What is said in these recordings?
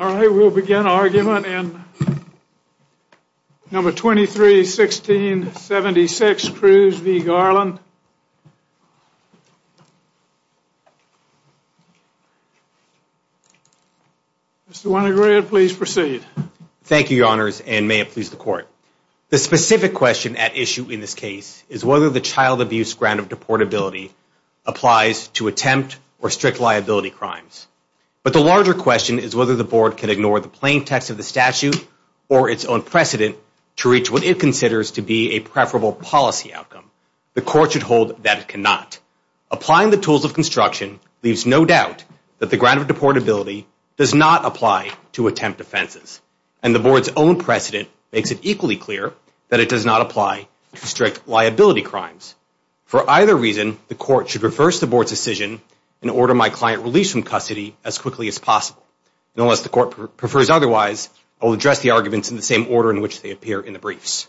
All right, we'll begin argument in number 23, 1676, Cruz v. Garland. Mr. Winograd, please proceed. Thank you, your honors, and may it please the court. The specific question at issue in this case is whether the child abuse grant of deportability applies to attempt or strict liability crimes. But the larger question is whether the board can ignore the plain text of the statute or its own precedent to reach what it considers to be a preferable policy outcome. The court should hold that it cannot. Applying the tools of construction leaves no doubt that the grant of deportability does not apply to attempt offenses, and the board's own precedent makes it equally clear that it does not apply to strict liability crimes. For either reason, the court should reverse the board's decision and order my client released from custody as quickly as possible. Unless the court prefers otherwise, I'll address the arguments in the same order in which they appear in the briefs.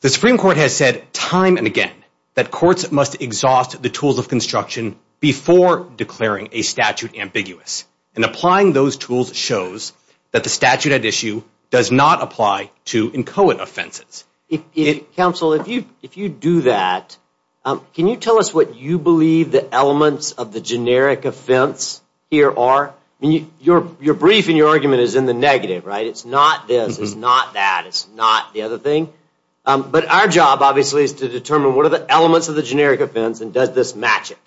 The Supreme Court has said time and again that courts must exhaust the tools of construction before declaring a statute ambiguous, and applying those tools shows that the statute at issue does not apply to inchoate If you do that, can you tell us what you believe the elements of the generic offense here are? Your brief and your argument is in the negative, right? It's not this, it's not that, it's not the other thing. But our job, obviously, is to determine what are the elements of the generic offense and does this match it.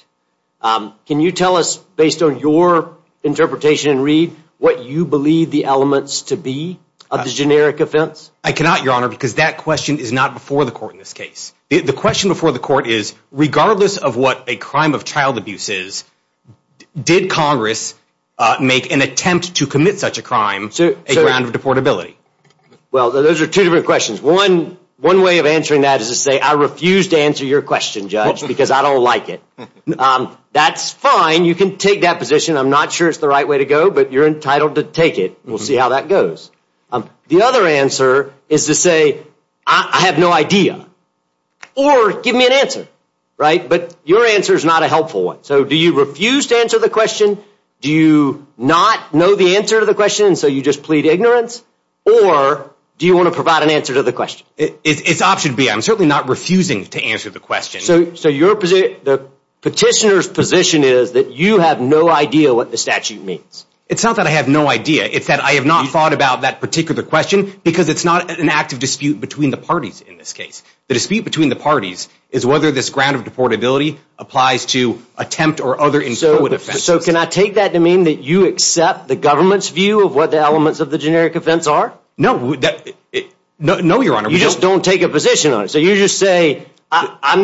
Can you tell us, based on your interpretation and read, what you believe the elements to be of the generic offense? I cannot, Your Honor, because that question is not before the court in this case. The question before the court is, regardless of what a crime of child abuse is, did Congress make an attempt to commit such a crime a ground of deportability? Well, those are two different questions. One way of answering that is to say, I refuse to answer your question, Judge, because I don't like it. That's fine, you can take that position. I'm not sure it's the right way to go, but you're entitled to take it. We'll see how that goes. The other answer is to say, I have no idea, or give me an answer, right? But your answer is not a helpful one. So do you refuse to answer the question? Do you not know the answer to the question, so you just plead ignorance? Or do you want to provide an answer to the question? It's option B. I'm certainly not refusing to answer the question. So your position, the petitioner's position is that you have no idea what the statute means. It's not that I have no idea. It's that I have not thought about that particular question, because it's not an active dispute between the parties in this case. The dispute between the parties is whether this ground of deportability applies to attempt or other insolent offenses. So can I take that to mean that you accept the government's view of what the elements of the generic offense are? No. No, your honor. You just don't take a position on it. So you just say, I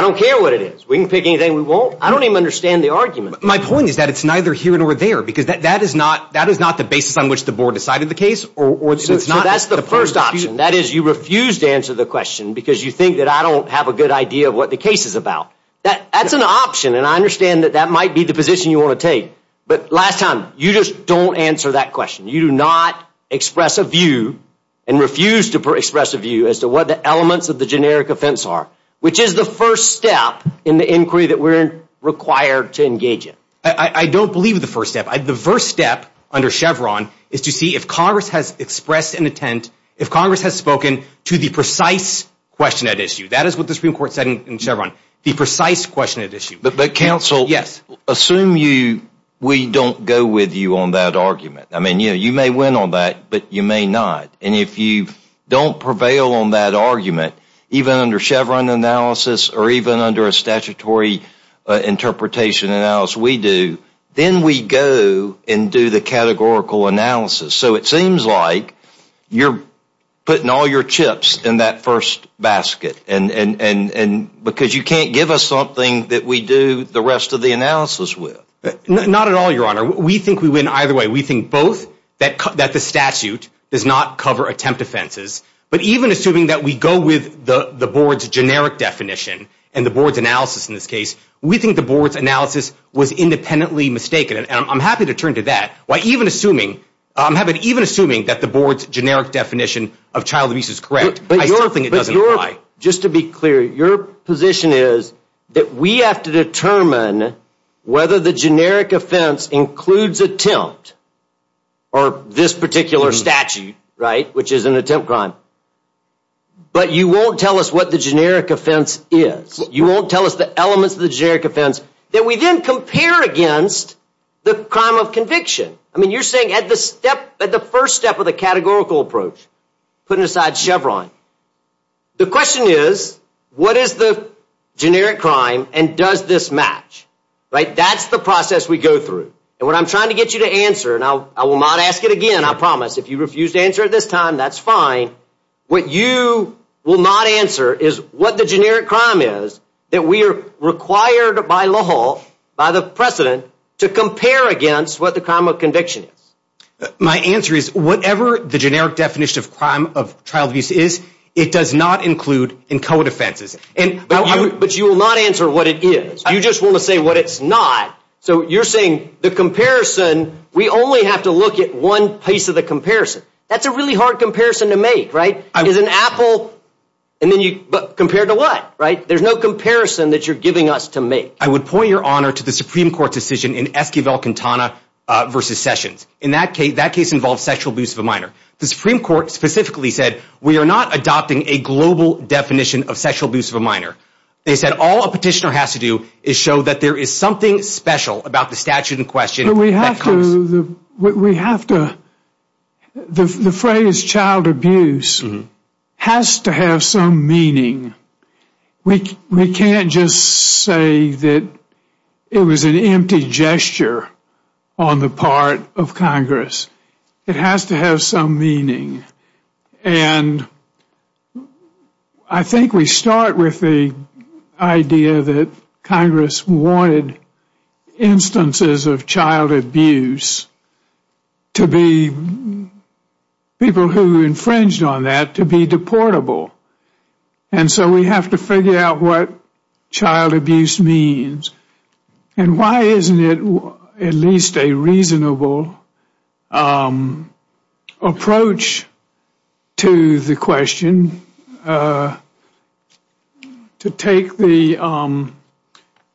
don't care what it is. We can pick anything we want. I don't even understand the argument. My point is that it's neither here nor there, because that is not the basis on which the board decided the case. That's the first option. That is, you refuse to answer the question, because you think that I don't have a good idea of what the case is about. That's an option, and I understand that that might be the position you want to take. But last time, you just don't answer that question. You do not express a view and refuse to express a view as to what the elements of the generic offense are, which is the first step in the inquiry that we're required to engage in. I don't believe the first step. The first step under Chevron is to see if Congress has expressed an intent, if Congress has spoken to the precise question at issue. That is what the Supreme Court said in Chevron, the precise question at issue. But counsel, assume we don't go with you on that argument. I mean, you may win on that, but you may not. And if you don't prevail on that argument, even under Chevron analysis or even under a statutory interpretation analysis we do, then we go and do the categorical analysis. So it seems like you're putting all your chips in that first basket, because you can't give us something that we do the rest of the analysis with. Not at all, Your Honor. We think we win either way. We think both that the statute does not cover attempt offenses, but even assuming that we go with the Board's generic definition and the Board's analysis in this case, we think the Board's analysis was independently mistaken. And I'm happy to turn to that. Even assuming that the Board's generic definition of child abuse is correct, I still think it doesn't apply. Just to be clear, your position is that we have to determine whether the generic offense includes attempt or this particular offense is. You won't tell us the elements of the generic offense that we then compare against the crime of conviction. I mean, you're saying at the first step of the categorical approach, putting aside Chevron, the question is what is the generic crime and does this match, right? That's the process we go through. And what I'm trying to get you to answer, and I will not ask it again, I promise, if you refuse to answer at this time, that's fine. What you will not answer is what the generic crime is that we are required by law, by the precedent, to compare against what the crime of conviction is. My answer is whatever the generic definition of crime of child abuse is, it does not include in code offenses. But you will not answer what it is. You just want to say what it's not. So you're saying the comparison, we only have to look at one piece of the comparison. That's a really hard comparison to make, right? Is an apple and then you compare to what, right? There's no comparison that you're giving us to make. I would point your honor to the Supreme Court decision in Esquivel-Quintana versus Sessions. In that case, that case involves sexual abuse of a minor. The Supreme Court specifically said we are not adopting a global definition of sexual abuse of a minor. They said all a petitioner has to do is show that there is special about the statute in question. We have to, the phrase child abuse has to have some meaning. We can't just say that it was an empty gesture on the part of Congress. It has to have some meaning. And I think we start with the idea that Congress wanted instances of child abuse to be, people who infringed on that, to be deportable. And so we have to figure out what to the question to take the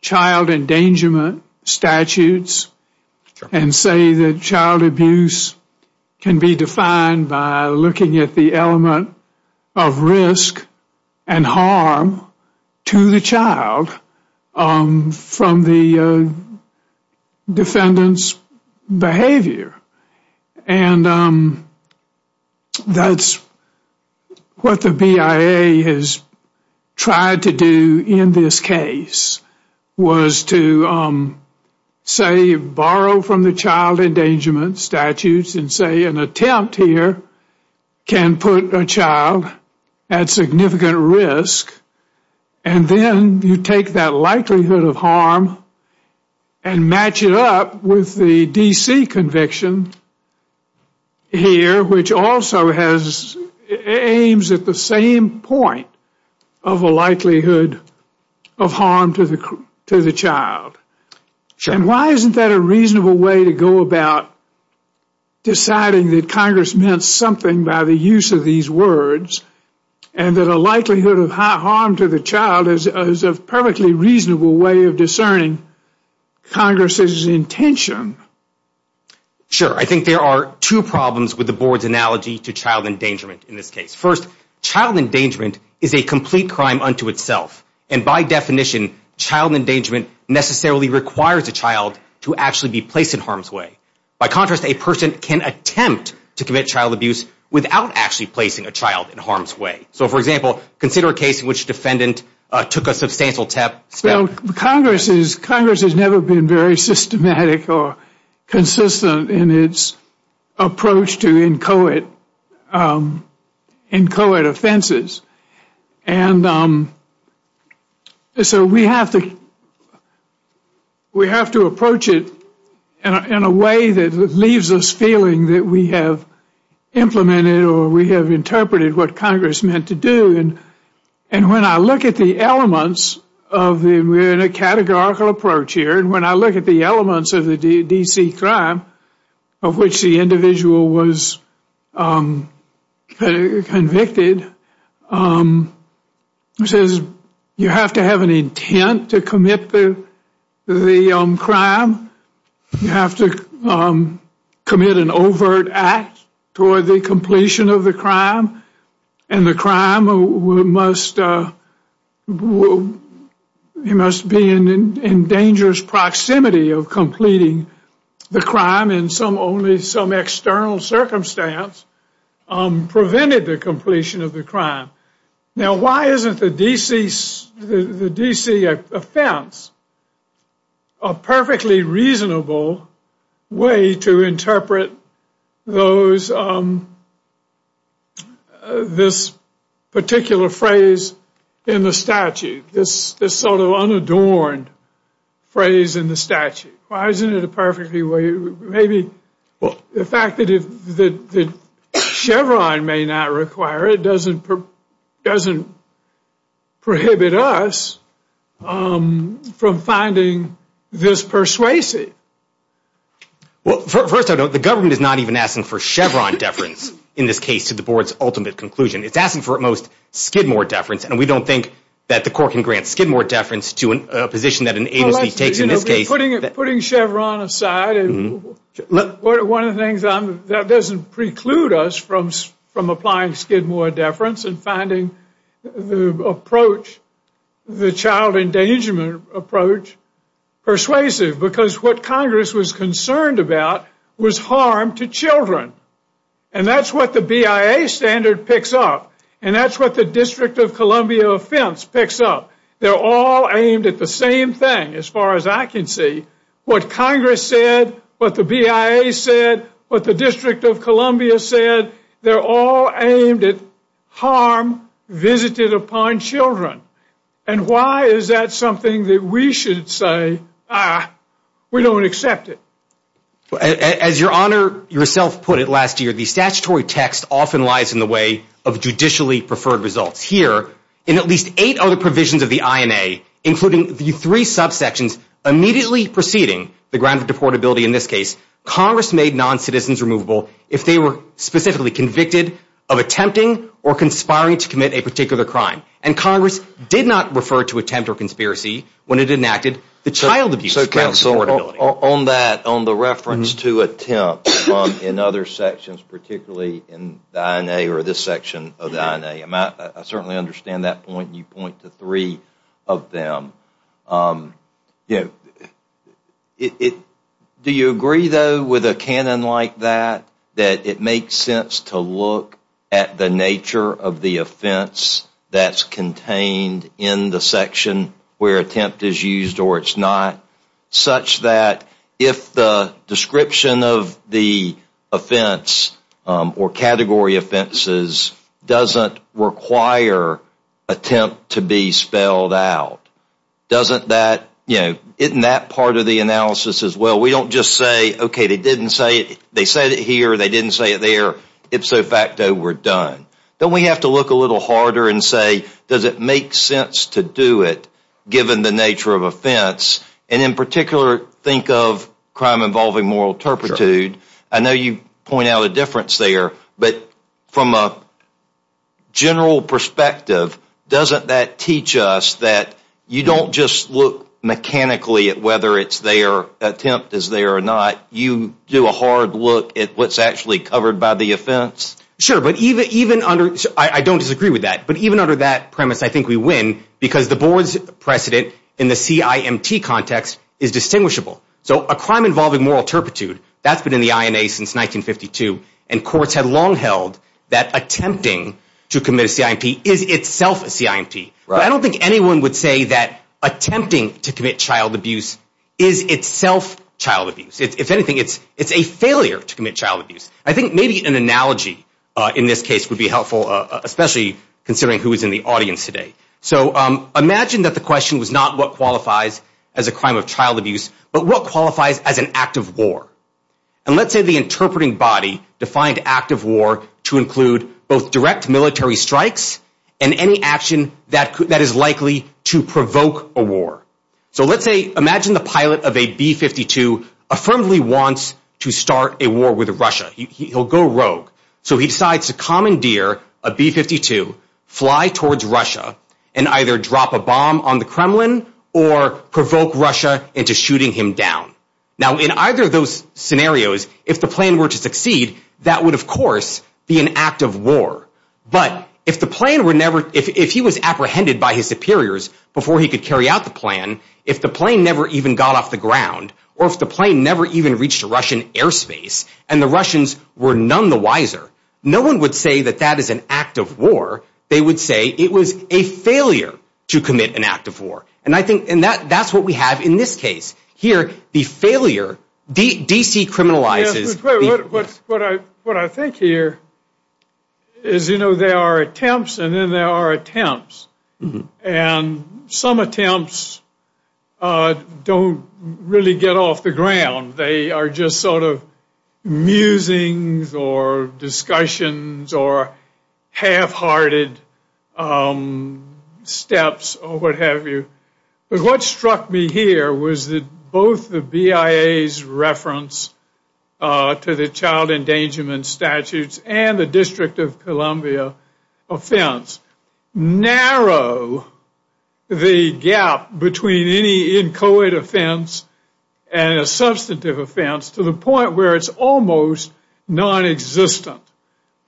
child endangerment statutes and say that child abuse can be defined by looking at the element of risk and harm to the child from the That's what the BIA has tried to do in this case was to say borrow from the child endangerment statutes and say an attempt here can put a child at significant risk. And then you take that it aims at the same point of a likelihood of harm to the child. And why isn't that a reasonable way to go about deciding that Congress meant something by the use of these words and that a likelihood of harm to the child is a perfectly reasonable way of discerning Congress's intention? Sure. I think there are two problems with the board's analogy to child endangerment in this case. First, child endangerment is a complete crime unto itself. And by definition, child endangerment necessarily requires a child to actually be placed in harm's way. By contrast, a person can attempt to commit child abuse without actually placing a child in harm's way. So for example, consider a Congress has never been very systematic or consistent in its approach to inchoate offenses. And so we have to approach it in a way that leaves us feeling that we have implemented or we have interpreted what Congress meant to do. And when I look at the elements of the, we're in a categorical approach here, and when I look at the elements of the D.C. crime of which the individual was convicted, it says you have to have an intent to commit the crime. You have to commit an overt act toward the completion of the crime. And the crime must you must be in dangerous proximity of completing the crime in some only some external circumstance prevented the completion of the crime. Now why isn't the D.C. offense a perfectly reasonable way to interpret those, this particular phrase in the statute, this sort of unadorned phrase in the statute? Why isn't it a perfectly way, maybe the fact that Chevron may not require it doesn't prohibit us from finding this persuasive? Well, first of all, the government is not even asking for Chevron deference in this case to the board's ultimate conclusion. It's asking for at most Skidmore deference, and we don't think that the court can grant Skidmore deference to a position that an agency takes in this case. Putting Chevron aside, one of the things that doesn't preclude us from applying Skidmore deference and finding the approach, the child endangerment approach persuasive, because what Congress was concerned about was harm to children. And that's what the BIA standard picks up, and that's what the District of Columbia offense picks up. They're all aimed at the same thing, as far as I can see. What Congress said, what the BIA said, what the District of Columbia said, they're all aimed at harm visited upon children. And why is that something that we should say, ah, we don't accept it? As your Honor yourself put it last year, the statutory text often lies in the way of judicially preferred results. Here, in at least eight other provisions of the INA, including the three subsections immediately preceding the grant of deportability in this case, Congress made non-citizens removable if they were specifically convicted of attempting or did not refer to attempt or conspiracy when it enacted the child abuse grant of deportability. On that, on the reference to attempt in other sections, particularly in the INA or this section of the INA, I certainly understand that point. You point to three of them. Do you agree, though, with a canon like that, that it makes sense to look at the nature of the offense that's contained in the section where attempt is used or it's not, such that if the description of the offense or category offenses doesn't require attempt to be spelled out, doesn't that, you know, isn't that part of the analysis as well? We don't just say, okay, they didn't say it, they said it here, they didn't say it there, ipso facto, we're done. Then we have to look a little harder and say, does it make sense to do it, given the nature of offense? And in particular, think of crime involving moral turpitude. I know you point out a difference there, but from a general perspective, doesn't that teach us that you don't just look mechanically at whether it's there, attempt is there or not, you do a hard look at what's covered by the offense? Sure. I don't disagree with that, but even under that premise, I think we win because the board's precedent in the CIMT context is distinguishable. So a crime involving moral turpitude, that's been in the INA since 1952, and courts had long held that attempting to commit a CIMT is itself a CIMT. I don't think anyone would say that attempting to commit child I think maybe an analogy in this case would be helpful, especially considering who is in the audience today. So imagine that the question was not what qualifies as a crime of child abuse, but what qualifies as an act of war. And let's say the interpreting body defined act of war to include both direct military strikes and any action that is likely to provoke a war. So let's say, imagine the pilot of a B-52 affirmably wants to start a war with Russia. He'll go rogue. So he decides to commandeer a B-52, fly towards Russia and either drop a bomb on the Kremlin or provoke Russia into shooting him down. Now in either of those scenarios, if the plane were to succeed, that would of course be an act of war. But if the plane were never, if he was apprehended by his superiors before he could carry out the plan, if the plane never even got off the ground, or if the plane never even reached Russian airspace, and the Russians were none the wiser, no one would say that that is an act of war. They would say it was a failure to commit an act of war. And I think that's what we have in this case. Here, the failure, DC criminalizes. What I think here is, you know, there are attempts and then there are attempts. And some attempts don't really get off the ground. They are just sort of musings or discussions or half-hearted steps or what have you. But what struck me here was that both the BIA's reference to the child endangerment statutes and the District of Columbia offense narrow the gap between any inchoate offense and a substantive offense to the point where it's almost non-existent.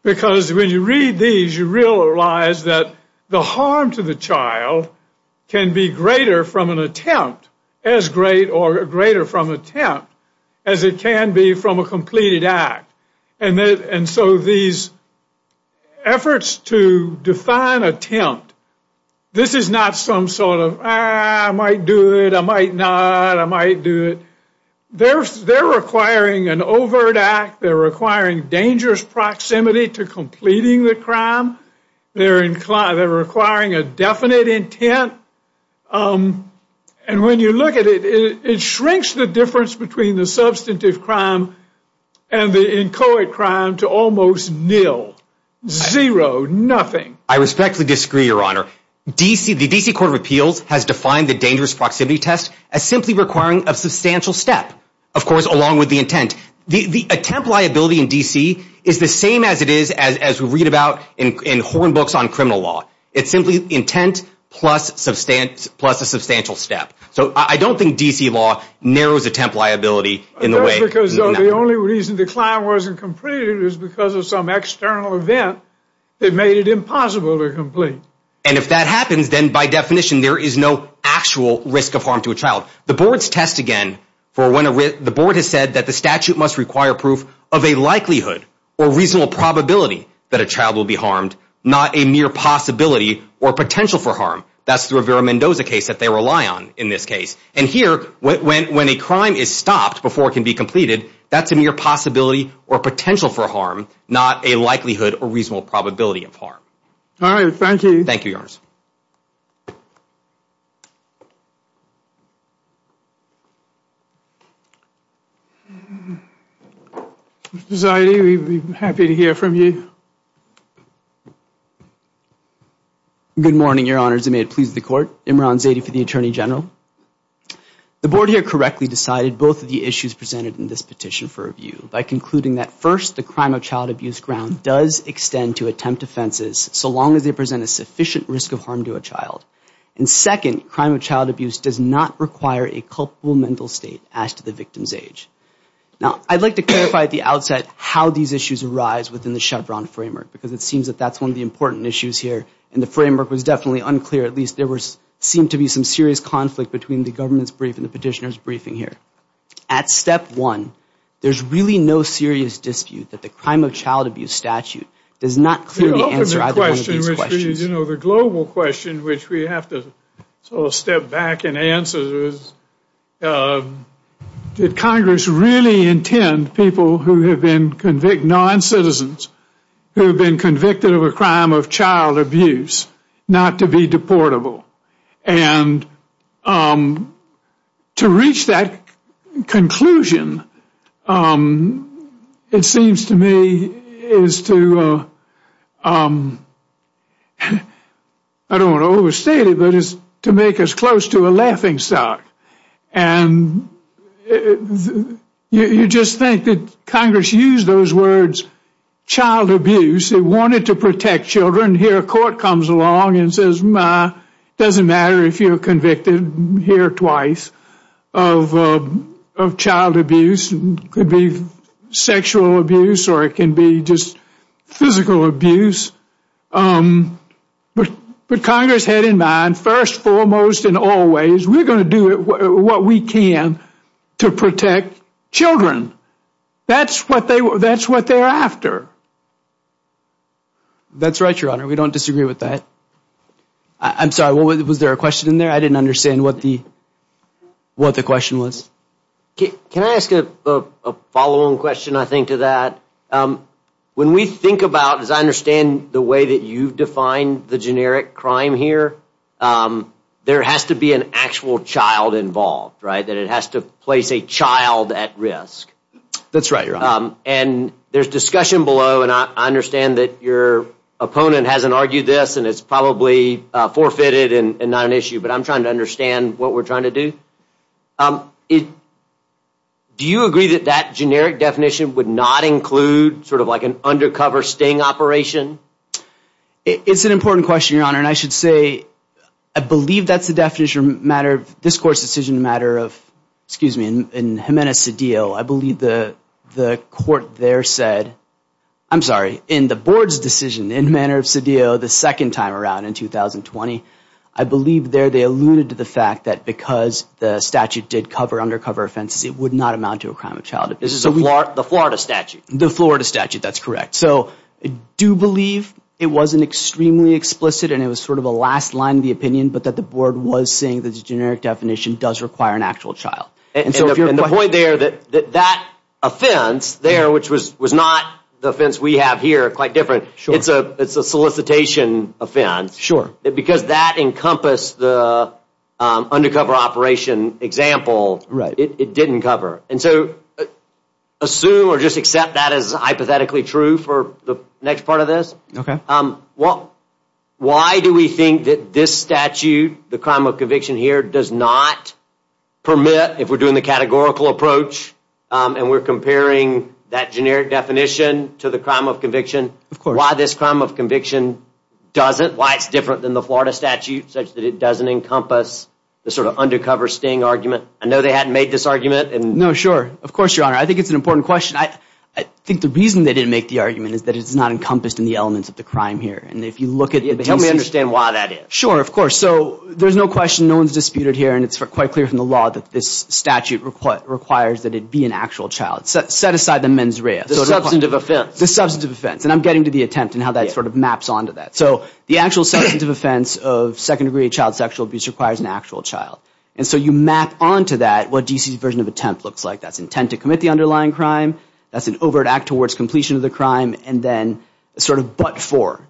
Because when you read these, you realize that the harm to the child can be greater from an attempt, as great or greater from attempt as it can be from a completed act. And so these efforts to define attempt, this is not some sort of, I might do it, I might not, I might do it. They're requiring an overt act. They're requiring dangerous proximity to completing the crime. They're requiring a definite intent. And when you look at it, it shrinks the difference between the substantive crime and the inchoate crime to almost nil. Zero. Nothing. I respectfully disagree, Your Honor. The DC Court of Appeals has defined the dangerous step, of course, along with the intent. The attempt liability in DC is the same as it is as we read about in horn books on criminal law. It's simply intent plus a substantial step. So I don't think DC law narrows attempt liability in the way. That's because the only reason the crime wasn't completed is because of some external event that made it impossible to complete. And if that happens, then by definition, there is no actual risk of harm to a child. The board's test again for when the board has said that the statute must require proof of a likelihood or reasonable probability that a child will be harmed, not a mere possibility or potential for harm. That's the Rivera-Mendoza case that they rely on in this case. And here, when a crime is stopped before it can be completed, that's a mere possibility or potential for harm, not a likelihood or reasonable probability of harm. All right. Thank you. Thank you, Your Honor. Mr. Zadie, we'd be happy to hear from you. Good morning, Your Honors. And may it please the Court. Imran Zadie for the Attorney General. The board here correctly decided both of the issues presented in this petition for review by concluding that first, the crime of child abuse ground does extend to attempt offenses so long as they present a sufficient risk of harm to a child. And second, crime of child abuse does not require a culpable mental state as to the victim's age. Now, I'd like to clarify at the outset how these issues arise within the Chevron framework, because it seems that that's one of the important issues here. And the framework was definitely unclear. At least, there seemed to be some serious conflict between the government's brief and the petitioner's briefing here. At step one, there's really no serious dispute that the crime of child abuse does not clearly answer either one of these questions. The global question which we have to sort of step back and answer is, did Congress really intend people who have been convicted, non-citizens, who have been convicted of a crime of child abuse, not to be deportable? And to reach that conclusion, it seems to me, is to, I don't want to overstate it, but it's to make us close to a laughing stock. And you just think that Congress used those words, child abuse. It wanted to protect children. Here, court comes along and says, it doesn't matter if you're convicted here twice of child abuse, could be sexual abuse, or it can be just physical abuse. But Congress had in mind, first, foremost, and always, we're going to do what we can to protect children. That's what they're after. That's right, Your Honor. We don't disagree with that. I'm sorry, was there a question in there? I didn't understand what the question was. Can I ask a follow-on question, I think, to that? When we think about, as I understand the way that you've defined the generic crime here, there has to be an actual child involved, right? That it has to place a child at risk. That's right, Your Honor. And there's discussion below, and I understand that your opponent hasn't argued this, and it's probably forfeited and not an issue, but I'm trying to understand what we're trying to do. Do you agree that that generic definition would not include sort of like an undercover sting operation? It's an important question, Your Honor, and I should say, I believe that's the definition, matter of this court's decision, excuse me, in Jimenez-Cedillo, I believe the court there said, I'm sorry, in the board's decision, in Jimenez-Cedillo, the second time around in 2020, I believe there they alluded to the fact that because the statute did cover undercover offenses, it would not amount to a crime of child abuse. The Florida statute? The Florida statute, that's correct. So I do believe it wasn't extremely explicit, and it was sort of a last line of the opinion, but that the board was saying that the generic definition does require an actual child. And the point there, that offense there, which was not the offense we have here, quite different, it's a solicitation offense. Sure. Because that encompassed the undercover operation example, it didn't cover. And so assume or just accept that as hypothetically true for the next part of this? Okay. Well, why do we think that this statute, the crime of conviction here, does not permit, if we're doing the categorical approach and we're comparing that generic definition to the crime of conviction, why this crime of conviction doesn't, why it's different than the Florida statute, such that it doesn't encompass the sort of undercover sting argument? I know they hadn't made this argument. No, sure. Of course, your honor. I think it's an important question. I think the reason they didn't make the argument is that it's not encompassed in the elements of crime here. And if you look at... Help me understand why that is. Sure, of course. So there's no question, no one's disputed here, and it's quite clear from the law that this statute requires that it be an actual child. Set aside the mens rea. The substantive offense. The substantive offense. And I'm getting to the attempt and how that sort of maps onto that. So the actual substantive offense of second degree child sexual abuse requires an actual child. And so you map onto that what D.C.'s version of attempt looks like. That's intent to commit the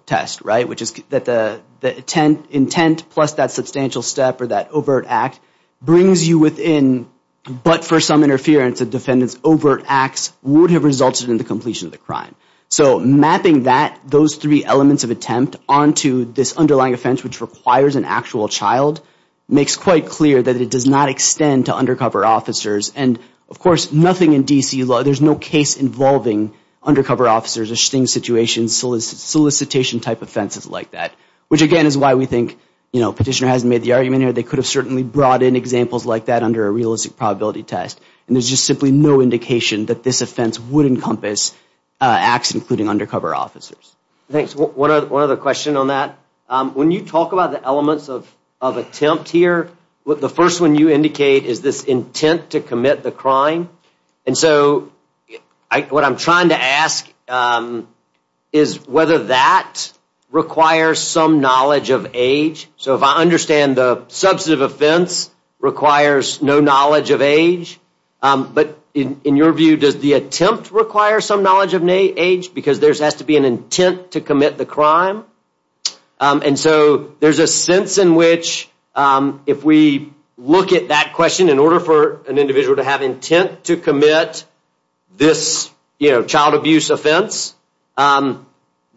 test, right? Which is that the intent plus that substantial step or that overt act brings you within, but for some interference of defendants, overt acts would have resulted in the completion of the crime. So mapping that, those three elements of attempt, onto this underlying offense which requires an actual child makes quite clear that it does not extend to undercover officers. And of course, nothing in D.C. law, there's no case involving undercover officers, a sting situation, solicitation type offenses like that. Which again is why we think, you know, petitioner hasn't made the argument here. They could have certainly brought in examples like that under a realistic probability test. And there's just simply no indication that this offense would encompass acts including undercover officers. Thanks. One other question on that. When you talk about the elements of attempt here, the first one you indicate is this intent to commit the crime. And so what I'm trying to ask is whether that requires some knowledge of age. So if I understand the substantive offense requires no knowledge of age. But in your view, does the attempt require some knowledge of age because there has to be an intent to commit the crime? And so there's a sense in which if we look at that question in order for an individual to have intent to commit this, you know, child abuse offense,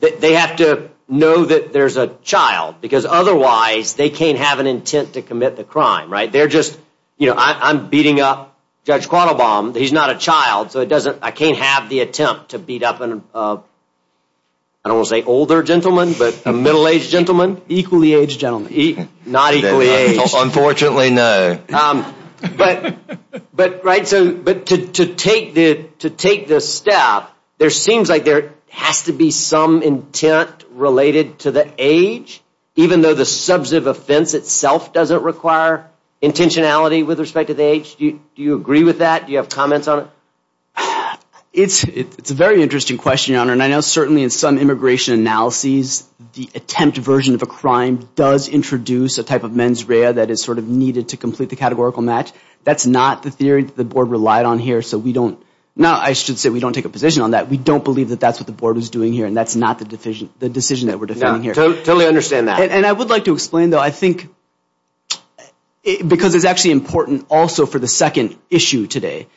they have to know that there's a child. Because otherwise, they can't have an intent to commit the crime, right? They're just, you know, I'm beating up Judge Quattlebaum. He's not a child. So it doesn't, I can't have the attempt to beat up an, I don't want to say older gentleman, but a middle-aged gentleman. Equally aged gentleman. Not equally aged. Unfortunately, no. But, right, so to take the step, there seems like there has to be some intent related to the age, even though the substantive offense itself doesn't require intentionality with respect to the age. Do you agree with that? Do you have comments on it? It's a very interesting question, Your Honor. And I know certainly in some immigration analyses, the attempt version of a crime does introduce a type of mens rea that is sort of needed to complete the categorical match. That's not the theory that the Board relied on here, so we don't, no, I should say we don't take a position on that. We don't believe that that's what the Board is doing here, and that's not the decision that we're defending here. Totally understand that. And I would like to explain, though, I think, because it's actually important also for the second issue today,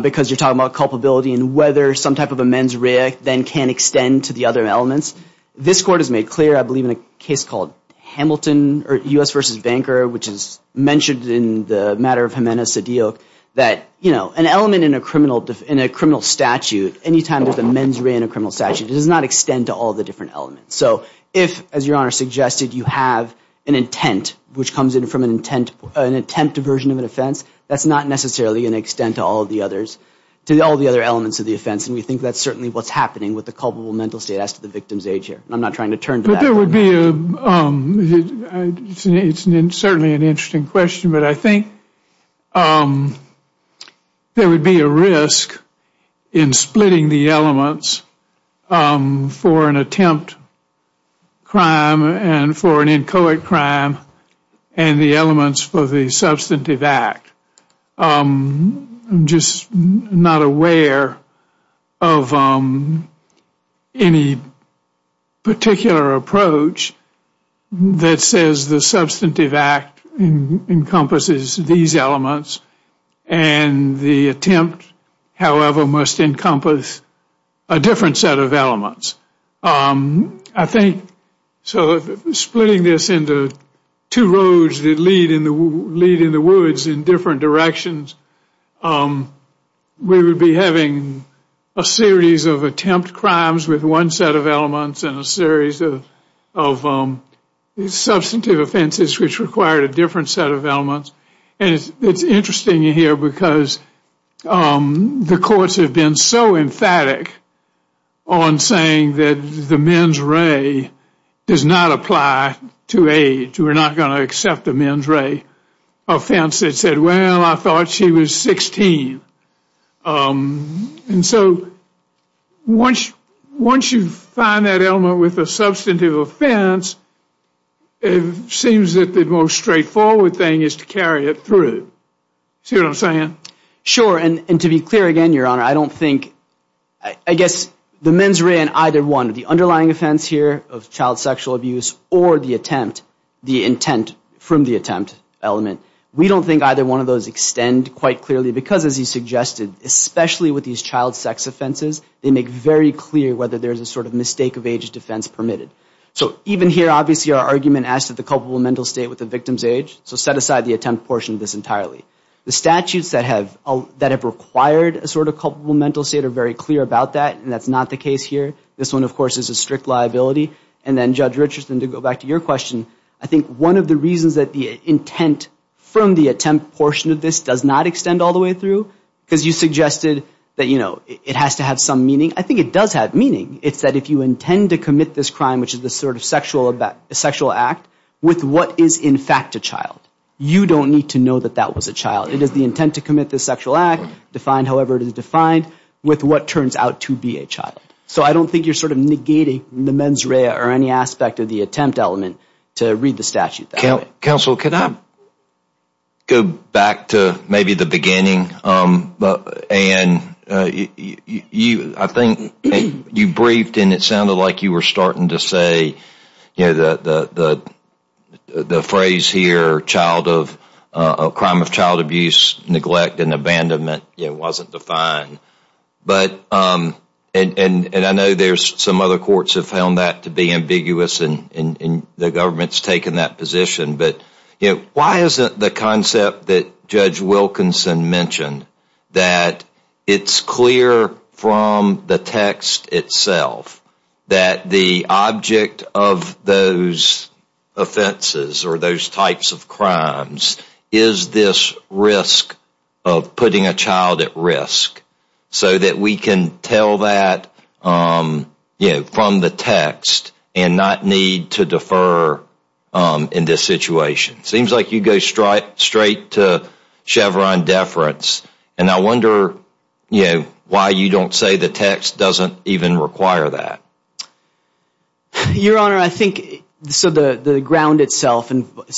because you're talking about culpability and whether some type of a mens rea then can extend to the other elements. This Court has made clear, I believe, in a case called Hamilton, or U.S. v. Banker, which is mentioned in the matter of Jimenez-Sedillo, that, you know, an element in a criminal statute, anytime there's a mens rea in a criminal statute, it does not extend to all the different elements. So if, as Your Honor suggested, you have an intent which comes in from an intent, an attempt version of an offense, that's not necessarily an extent to all the others, to all the other elements of the offense. And we think that's certainly what's happening with the I'm not trying to turn to that. It's certainly an interesting question, but I think there would be a risk in splitting the elements for an attempt crime and for an inchoate crime and the elements for the substantive act. I'm just not aware of any particular approach that says the substantive act encompasses these elements and the attempt, however, must encompass a different set of elements. I think, so splitting this into two roads that lead in the woods in different directions, we would be having a series of attempt crimes with one set of elements and a series of substantive offenses which required a different set of elements. And it's interesting here because the courts have been so emphatic on saying that the mens rea does not apply to age. We're not going to accept the mens rea offense that said, well, I thought she was 16. And so once you find that element with a substantive offense, it seems that the most straightforward thing is to carry it through. See what I'm saying? Sure. And to be clear again, Your Honor, I don't think, I guess the mens rea and either one of the underlying offense here of child sexual abuse or the attempt, the intent from the attempt element, we don't think either one of those extend quite clearly because as you suggested, especially with these child sex offenses, they make very clear whether there's a sort of mistake of age defense permitted. So even here, obviously, our argument as to the culpable mental state with the victim's age, so set aside the attempt portion of this entirely. The statutes that have required a sort of culpable mental state are very clear about that and that's not the case here. This one, of course, is a strict liability. And then Judge Richardson, to go back to your question, I think one of the reasons that the intent from the attempt portion of this does not extend all the way through, because you suggested that, you know, it has to have some meaning. I think it does have meaning. It's that if you intend to commit this crime, which is the sort of sexual act, with what is in fact a child, you don't need to know that that was a child. It is the intent to commit this sexual act, defined however it is defined, with what turns out to be a child. So I don't think you're sort of negating the mens rea or any aspect of the attempt element to read the statute that way. Counsel, can I go back to maybe the beginning? Anne, I think you briefed and it sounded like you were starting to say, you know, the phrase here, a crime of child abuse, neglect, and other courts have found that to be ambiguous and the government has taken that position. But why isn't the concept that Judge Wilkinson mentioned that it's clear from the text itself that the object of those offenses or those types of crimes is this risk of putting a child at risk so that we can tell that, you know, from the text and not need to defer in this situation? Seems like you go straight to Chevron deference and I wonder, you know, why you don't say the text doesn't even require that. Your Honor, I think, so the ground itself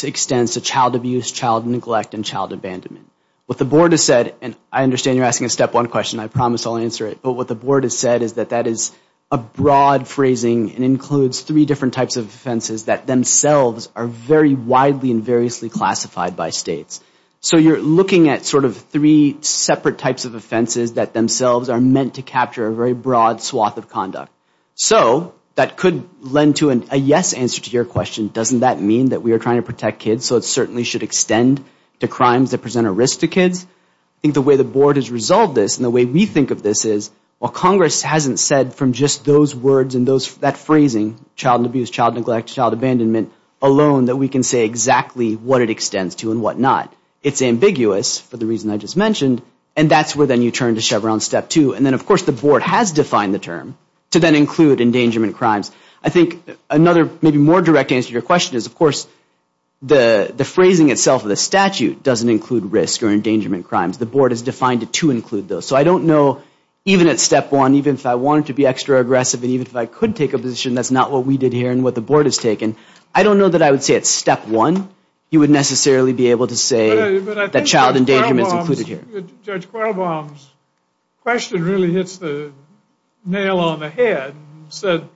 extends to child abuse, child neglect, and child abandonment. What the board has said, and I understand you're asking a step one question. I promise I'll answer it. But what the board has said is that that is a broad phrasing and includes three different types of offenses that themselves are very widely and variously classified by states. So you're looking at sort of three separate types of offenses that themselves are meant to capture a very broad swath of conduct. So that could lend to a yes answer to your question. Doesn't that mean that we are trying to protect kids so it certainly should extend to crimes that present a risk to kids? I think the way the board has resolved this and the way we think of this is, well, Congress hasn't said from just those words and that phrasing, child abuse, child neglect, child abandonment, alone that we can say exactly what it extends to and what not. It's ambiguous for the reason I just mentioned and that's where then you turn to Chevron step two. And then, of course, the board has defined the term to then include endangerment crimes. I think another maybe more direct answer to your question is, of course, the phrasing itself of the statute doesn't include risk or endangerment crimes. The board has defined it to include those. So I don't know, even at step one, even if I wanted to be extra aggressive and even if I could take a position that's not what we did here and what the board has taken, I don't know that I would say at step one you would necessarily be able to say that child endangerment is included here. But I think Judge Quirlebaum's question really hits the nail on the head and said,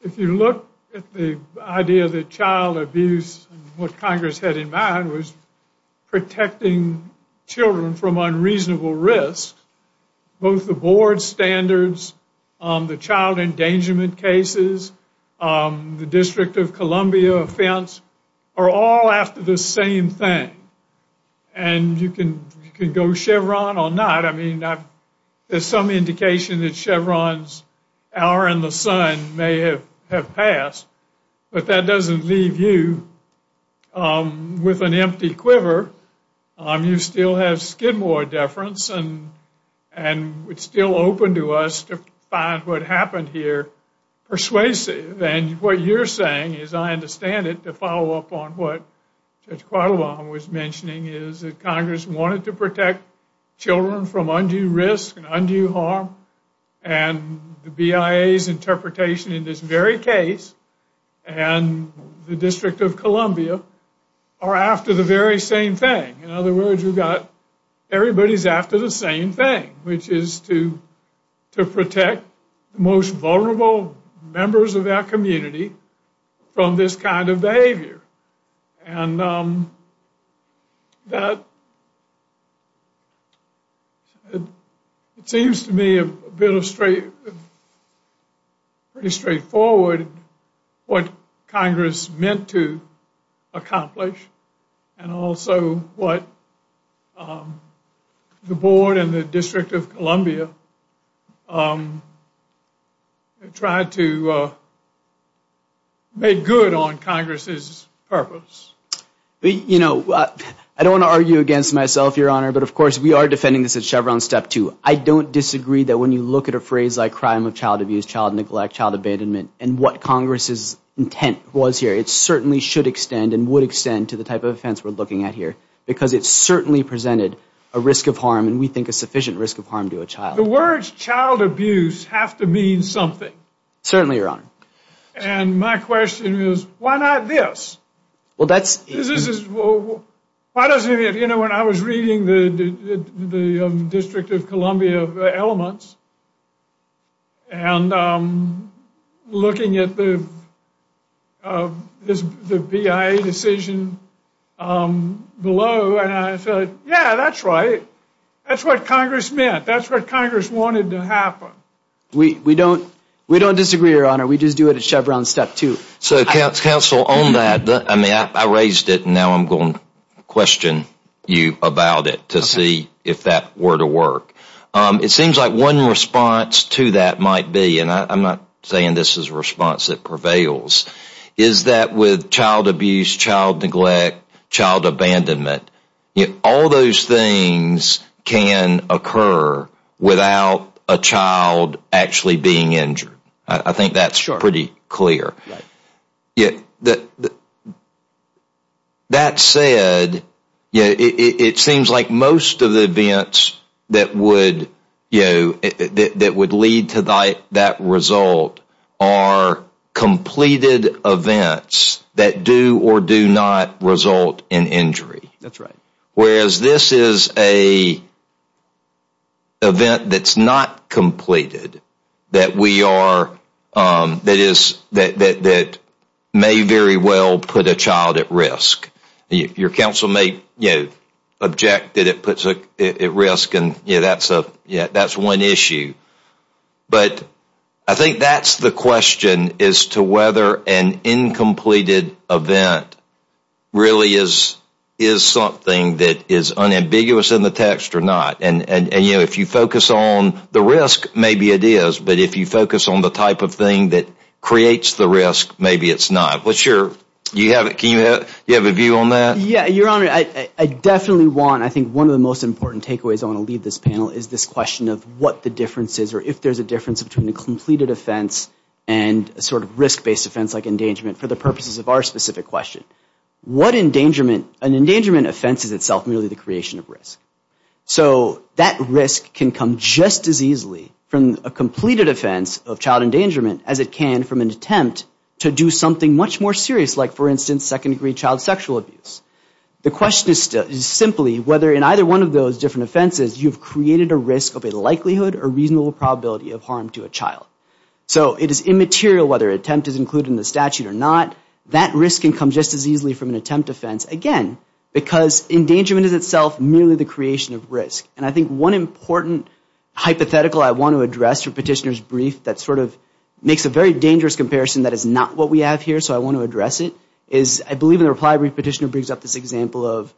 if you look at the idea that child abuse and what children from unreasonable risk, both the board standards, the child endangerment cases, the District of Columbia offense, are all after the same thing. And you can go Chevron or not. I mean, there's some indication that Chevron's hour and the sun may have passed, but that doesn't leave you with an empty quiver. You still have Skidmore deference and it's still open to us to find what happened here persuasive. And what you're saying, as I understand it, to follow up on what Judge Quirlebaum was mentioning is that Congress wanted to protect children from undue risk and undue harm. And the BIA's interpretation in this very case and the District of Columbia are after the very same thing. In other words, we've got everybody's after the same thing, which is to protect the most vulnerable members of our community from this kind of behavior. And that seems to me a bit of straight, pretty straightforward, what Congress meant to accomplish and also what the board and the District of Columbia tried to make good on Congress's purpose. You know, I don't want to argue against myself, Your Honor, but of course we are defending this at Chevron step two. I don't disagree that when you look at a phrase like crime of child abuse, child neglect, child abatement, and what Congress's intent was here, it certainly should extend and would extend to the type of offense we're looking at here. Because it certainly presented a risk of harm and we think a sufficient risk of harm to a child abuse have to mean something. Certainly, Your Honor. And my question is, why not this? You know, when I was reading the District of Columbia elements and looking at the decision below, I thought, yeah, that's right. That's what Congress meant. That's what Congress wanted to happen. We don't disagree, Your Honor. We just do it at Chevron step two. So, counsel, on that, I raised it and now I'm going to question you about it to see if that were to work. It seems like one response to that might be, and I'm not saying this is a response that prevails, is that with child abuse, child neglect, child abandonment, all those things can occur without a child actually being injured. I think that's pretty clear. That said, it seems like most of the events that would lead to that result are completed events that do or do not result in injury. Whereas this is an event that's not completed that may very well put a child at risk. Your counsel may object that it puts a child at risk. That's one issue. But I think that's the question as to whether an incompleted event really is something that is unambiguous in the text or not. If you focus on the risk, maybe it is. But if you focus on the type of thing that creates the risk, maybe it's not. Do you have a view on that? Your Honor, I definitely want, I think one of the most important takeaways I want to leave this panel is this question of what the difference is or if there's a difference between a completed offense and a sort of risk-based offense like endangerment for the purposes of our specific question. An endangerment offense is itself merely the creation of risk. So that risk can come just as easily from a completed offense of child endangerment as it can from an attempt to do something much more serious like, for instance, second-degree child sexual abuse. The question is simply whether in either one of those different offenses you've created a risk of a likelihood or reasonable probability of harm to a child. So it is immaterial whether an attempt is included in the statute or not. That risk can come just as easily from an attempt offense, again, because endangerment is itself merely the creation of risk. And I think one important hypothetical I want to address from Petitioner's brief that sort of makes a very dangerous comparison that is not what we have here, so I want to address it, is I believe in the reply Petitioner brings up this example of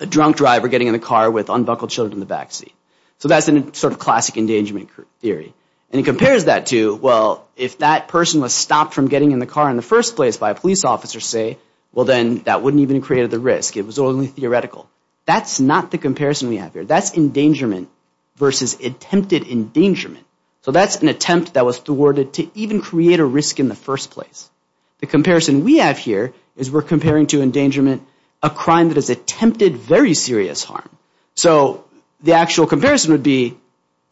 a drunk driver getting in the car with unbuckled children in the backseat. So that's a sort of classic endangerment theory. And he compares that to, well, if that person was stopped from getting in the car in the first place by a police officer, say, well, then that wouldn't even create the risk. It was only theoretical. That's not the comparison we have here. That's endangerment versus attempted endangerment. So that's an attempt that was thwarted to even create a risk in the first place. The comparison we have here is we're comparing to endangerment a crime that has attempted very serious harm. So the actual comparison would be,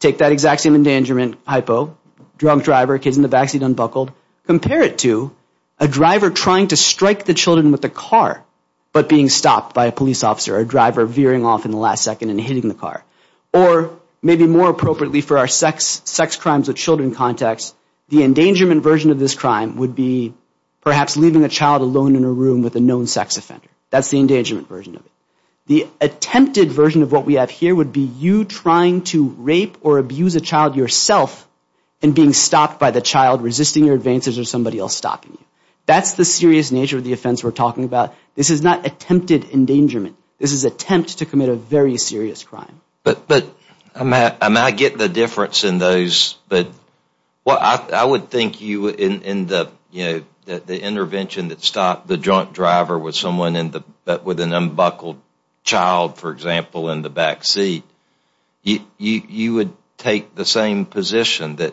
take that exact same endangerment hypo, drunk driver, kids in the backseat unbuckled, compare it to a driver trying to strike the children with a car but being stopped by a police officer, a driver veering off in the last second and hitting the car. Or maybe more appropriately for our sex crimes with children context, the endangerment version of this crime would be perhaps leaving a child alone in a room with a known sex offender. That's the endangerment version of it. The attempted version of what we have here would be you trying to rape or abuse a child yourself and being stopped by the child resisting your advances or somebody else stopping you. That's the serious nature of the offense we're talking about. This is not attempted endangerment. This is attempt to commit a very serious crime. I would think in the intervention that stopped the drunk driver with someone with an unbuckled child, for example, in the backseat, you would take the same position that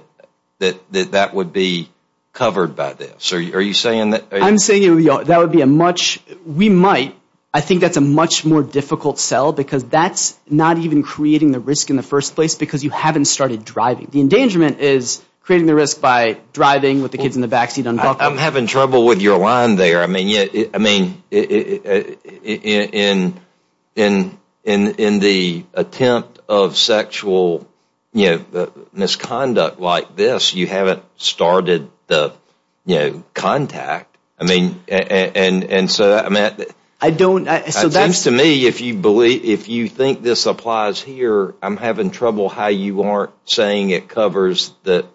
that would be covered by this. Are you saying that? I'm saying that would be a much, we might, I think that's a much more difficult sell because that's not even creating the risk in the first place because you haven't started driving. The endangerment is creating the risk by driving with the kids in the backseat unbuckled. I'm having trouble with your line there. I mean, in the attempt of sexual misconduct like this, you haven't started the contact. I mean, and so, Matt, it seems to me if you think this applies here, I'm having trouble how you aren't saying it covers the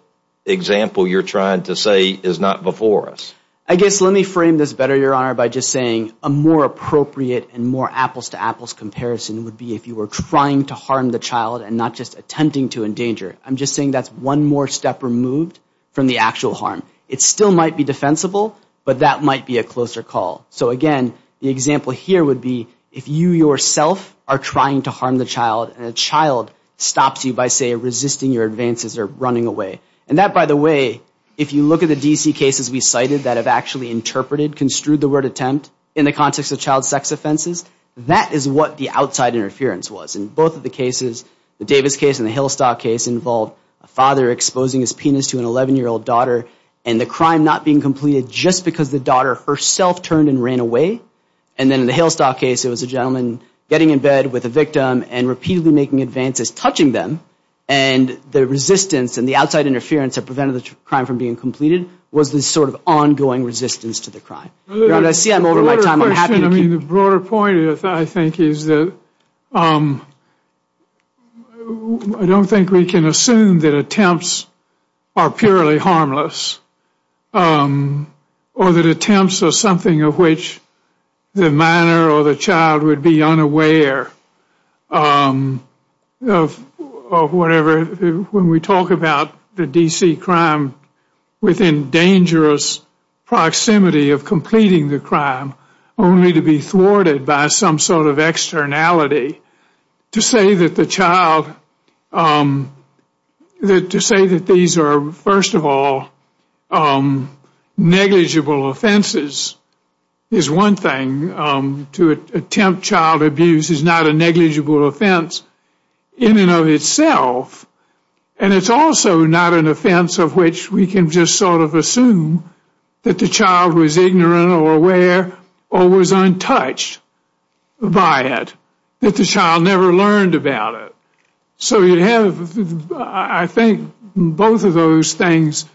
example you're trying to say is not before us. I guess let me frame this better, Your Honor, by just saying a more appropriate and more apples to apples comparison would be if you were trying to harm the child and not just attempting to endanger. I'm just saying that's one more step removed from the actual harm. It still might be defensible, but that might be a closer call. So again, the example here would be if you yourself are trying to harm the child and the child stops you by, say, resisting your advances or running away. And that, by the way, if you look at the D.C. cases we cited that have actually interpreted, construed the word attempt in the context of child sex offenses, that is what the outside interference was. In both of the cases, the Davis case and the Hillstock case involved a father exposing his penis to an 11-year-old daughter and the crime not being completed just because the daughter herself turned and ran away. And then in the Hillstock case, it was a gentleman getting in bed with a victim and repeatedly making advances, touching them, and the resistance and the outside interference that prevented the crime from being completed was this sort of ongoing resistance to the crime. Your Honor, I see I'm over my time. I'm happy to continue. The broader point, I think, is that I don't think we can assume that attempts are purely harmless or that attempts are something of which the minor or the child would be unaware of whatever. When we talk about the D.C. crime within dangerous proximity of completing the crime only to be thwarted by some sort of externality, to say that the child, to say that these are, first of all, negligible offenses is one thing. To attempt child abuse is not a negligible offense in and of itself, and it's also not an offense of which we can just sort of assume that the child was ignorant or aware or was untouched by it, that the child never learned about it. So you have, I think, both of those things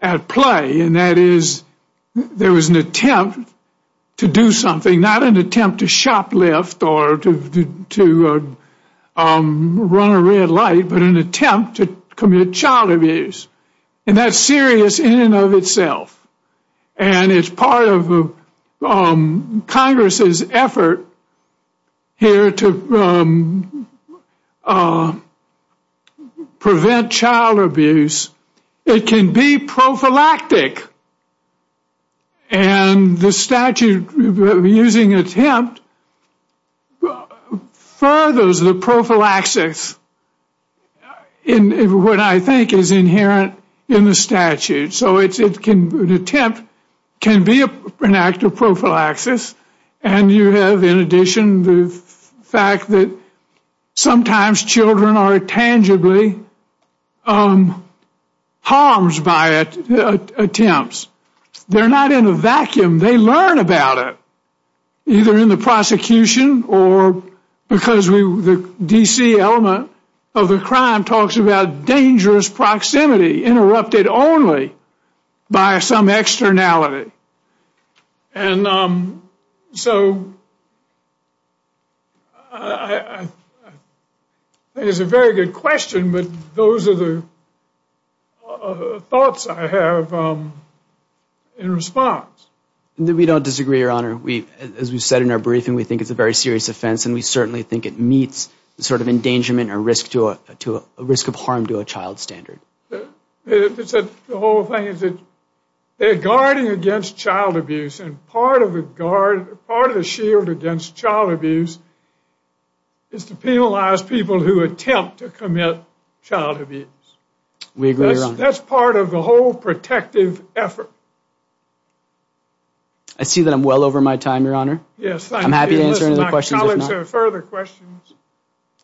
at play, and that is there was an attempt to do something, not an attempt to shoplift or to run a red light, but an attempt to commit child abuse, and that's serious in and of itself, and it's part of Congress's effort here to prevent child abuse. It can be prophylactic, and the statute using attempt furthers the prophylaxis in what I think is inherent in the statute. So an attempt can be an act of prophylaxis, and you have, in addition, the fact that sometimes children are tangibly harmed by attempts. They're not in a vacuum. They learn about it, either in the prosecution or because the D.C. element of the crime talks about dangerous proximity interrupted only by some externality, and so I think it's a very good question, but those are the thoughts I have in response. We don't disagree, Your Honor. As we said in our briefing, we think it's a very serious offense, and we certainly think it meets the sort of endangerment or risk of harm to a child standard. The whole thing is that they're guarding against child abuse, and part of the shield against child abuse is to penalize people who attempt to commit child abuse. We agree, Your Honor. That's part of the whole protective effort. I see that I'm well over my time, Your Honor. Yes, thank you. I'm happy to answer any other questions.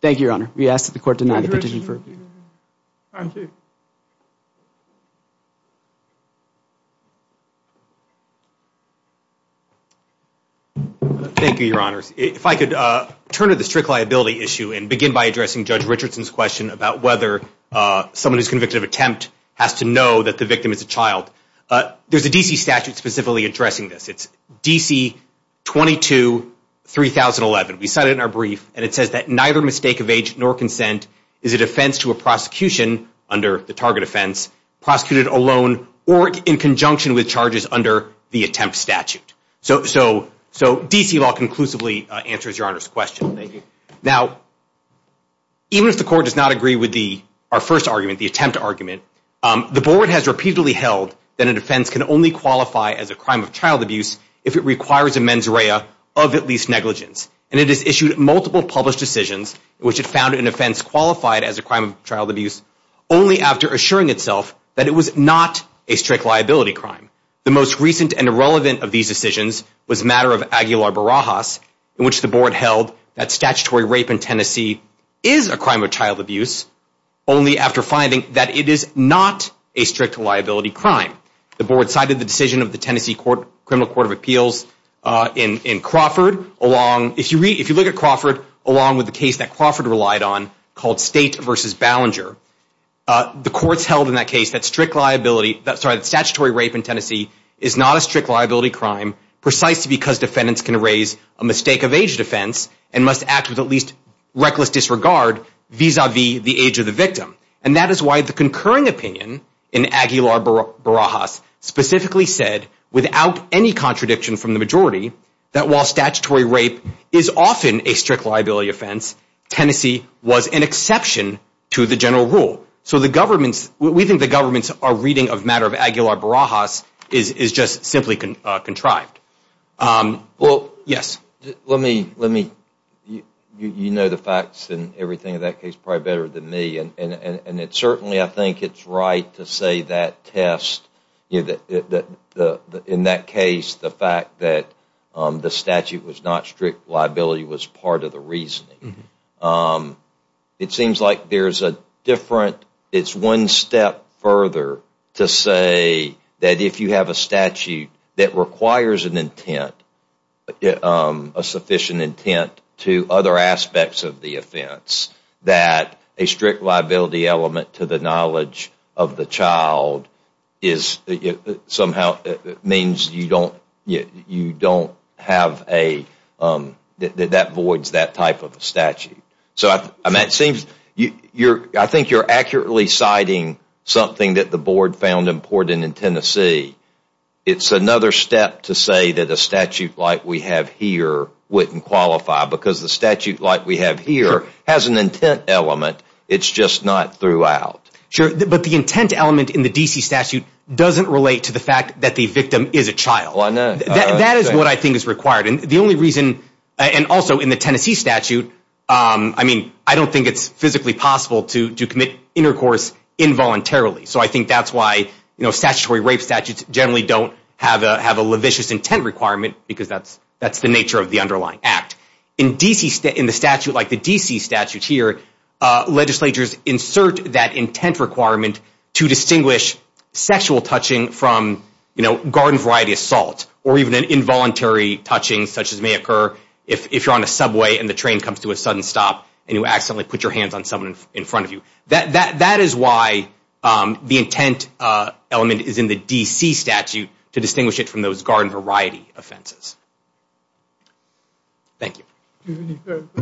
Thank you, Your Honor. We ask that the Court deny the petition. Thank you, Your Honors. If I could turn to the strict liability issue and begin by addressing Judge Richardson's question about whether someone who's convicted of attempt has to know that the victim is a child. There's a D.C. statute specifically addressing this. It's D.C. 22-3011. We cite it in our brief, and it says that neither mistake of age nor consent is a defense to a prosecution under the target offense, prosecuted alone or in conjunction with charges under the attempt statute. So D.C. law conclusively answers Your Honor's question. Thank you. Now, even if the Court does not agree with our first argument, the attempt argument, the Board has repeatedly held that a defense can only qualify as a crime of child abuse if it requires a mens rea of at least negligence. And it has issued multiple published decisions in which it found an offense qualified as a crime of child abuse only after assuring itself that it was not a strict liability crime. The most recent and irrelevant of these decisions was the matter of Aguilar-Barajas, in which the Board held that statutory rape in Tennessee is a crime of child abuse only after finding that it is not a strict liability crime. The Board cited the decision of the Tennessee Criminal Court of Appeals in Crawford along, if you look at Crawford, along with the case that Crawford relied on called State v. Ballinger, the courts held in that case that strict liability, sorry, that statutory rape in Tennessee is not a strict liability crime precisely because defendants can raise a mistake of age defense and must act with at least reckless disregard vis-a-vis the age of the victim. And that is why the concurring opinion in Aguilar-Barajas specifically said, without any contradiction from the majority, that while statutory rape is often a strict liability offense, Tennessee was an exception to the general rule. So the governments, we think the governments are reading a matter of Aguilar-Barajas is just simply contrived. Well, yes. Let me, you know the facts and everything in that case probably better than me. And certainly I think it is right to say that test, in that case the fact that the statute was not strict liability was part of the reasoning. It seems like there is a different, it is one step further to say that if you have a statute that requires an intent, a sufficient intent to other aspects of the offense, that a strict liability element to the knowledge of the child is somehow, means you don't have a, that voids that type of a statute. So I mean it seems, I think you are accurately citing something that the board found important in Tennessee. It is another step to say that a statute like we have here wouldn't qualify, because the statute like we have here has an intent element, it is just not throughout. Sure, but the intent element in the D.C. statute doesn't relate to the fact that the victim is a child. That is what I think is required. And the only reason, and also in the Tennessee statute, I mean I don't think it is physically possible to commit intercourse involuntarily. So I think that is why statutory rape statutes generally don't have a levitious intent requirement, because that is the nature of the underlying act. In the statute like the D.C. statute here, legislatures insert that intent requirement to distinguish sexual touching from garden variety assault or even involuntary touching such as may occur if you are on a subway and the train comes to a sudden stop and you accidentally put your hands on someone in front of you. That is why the intent element is in the D.C. statute to distinguish it from those garden variety offenses. Thank you.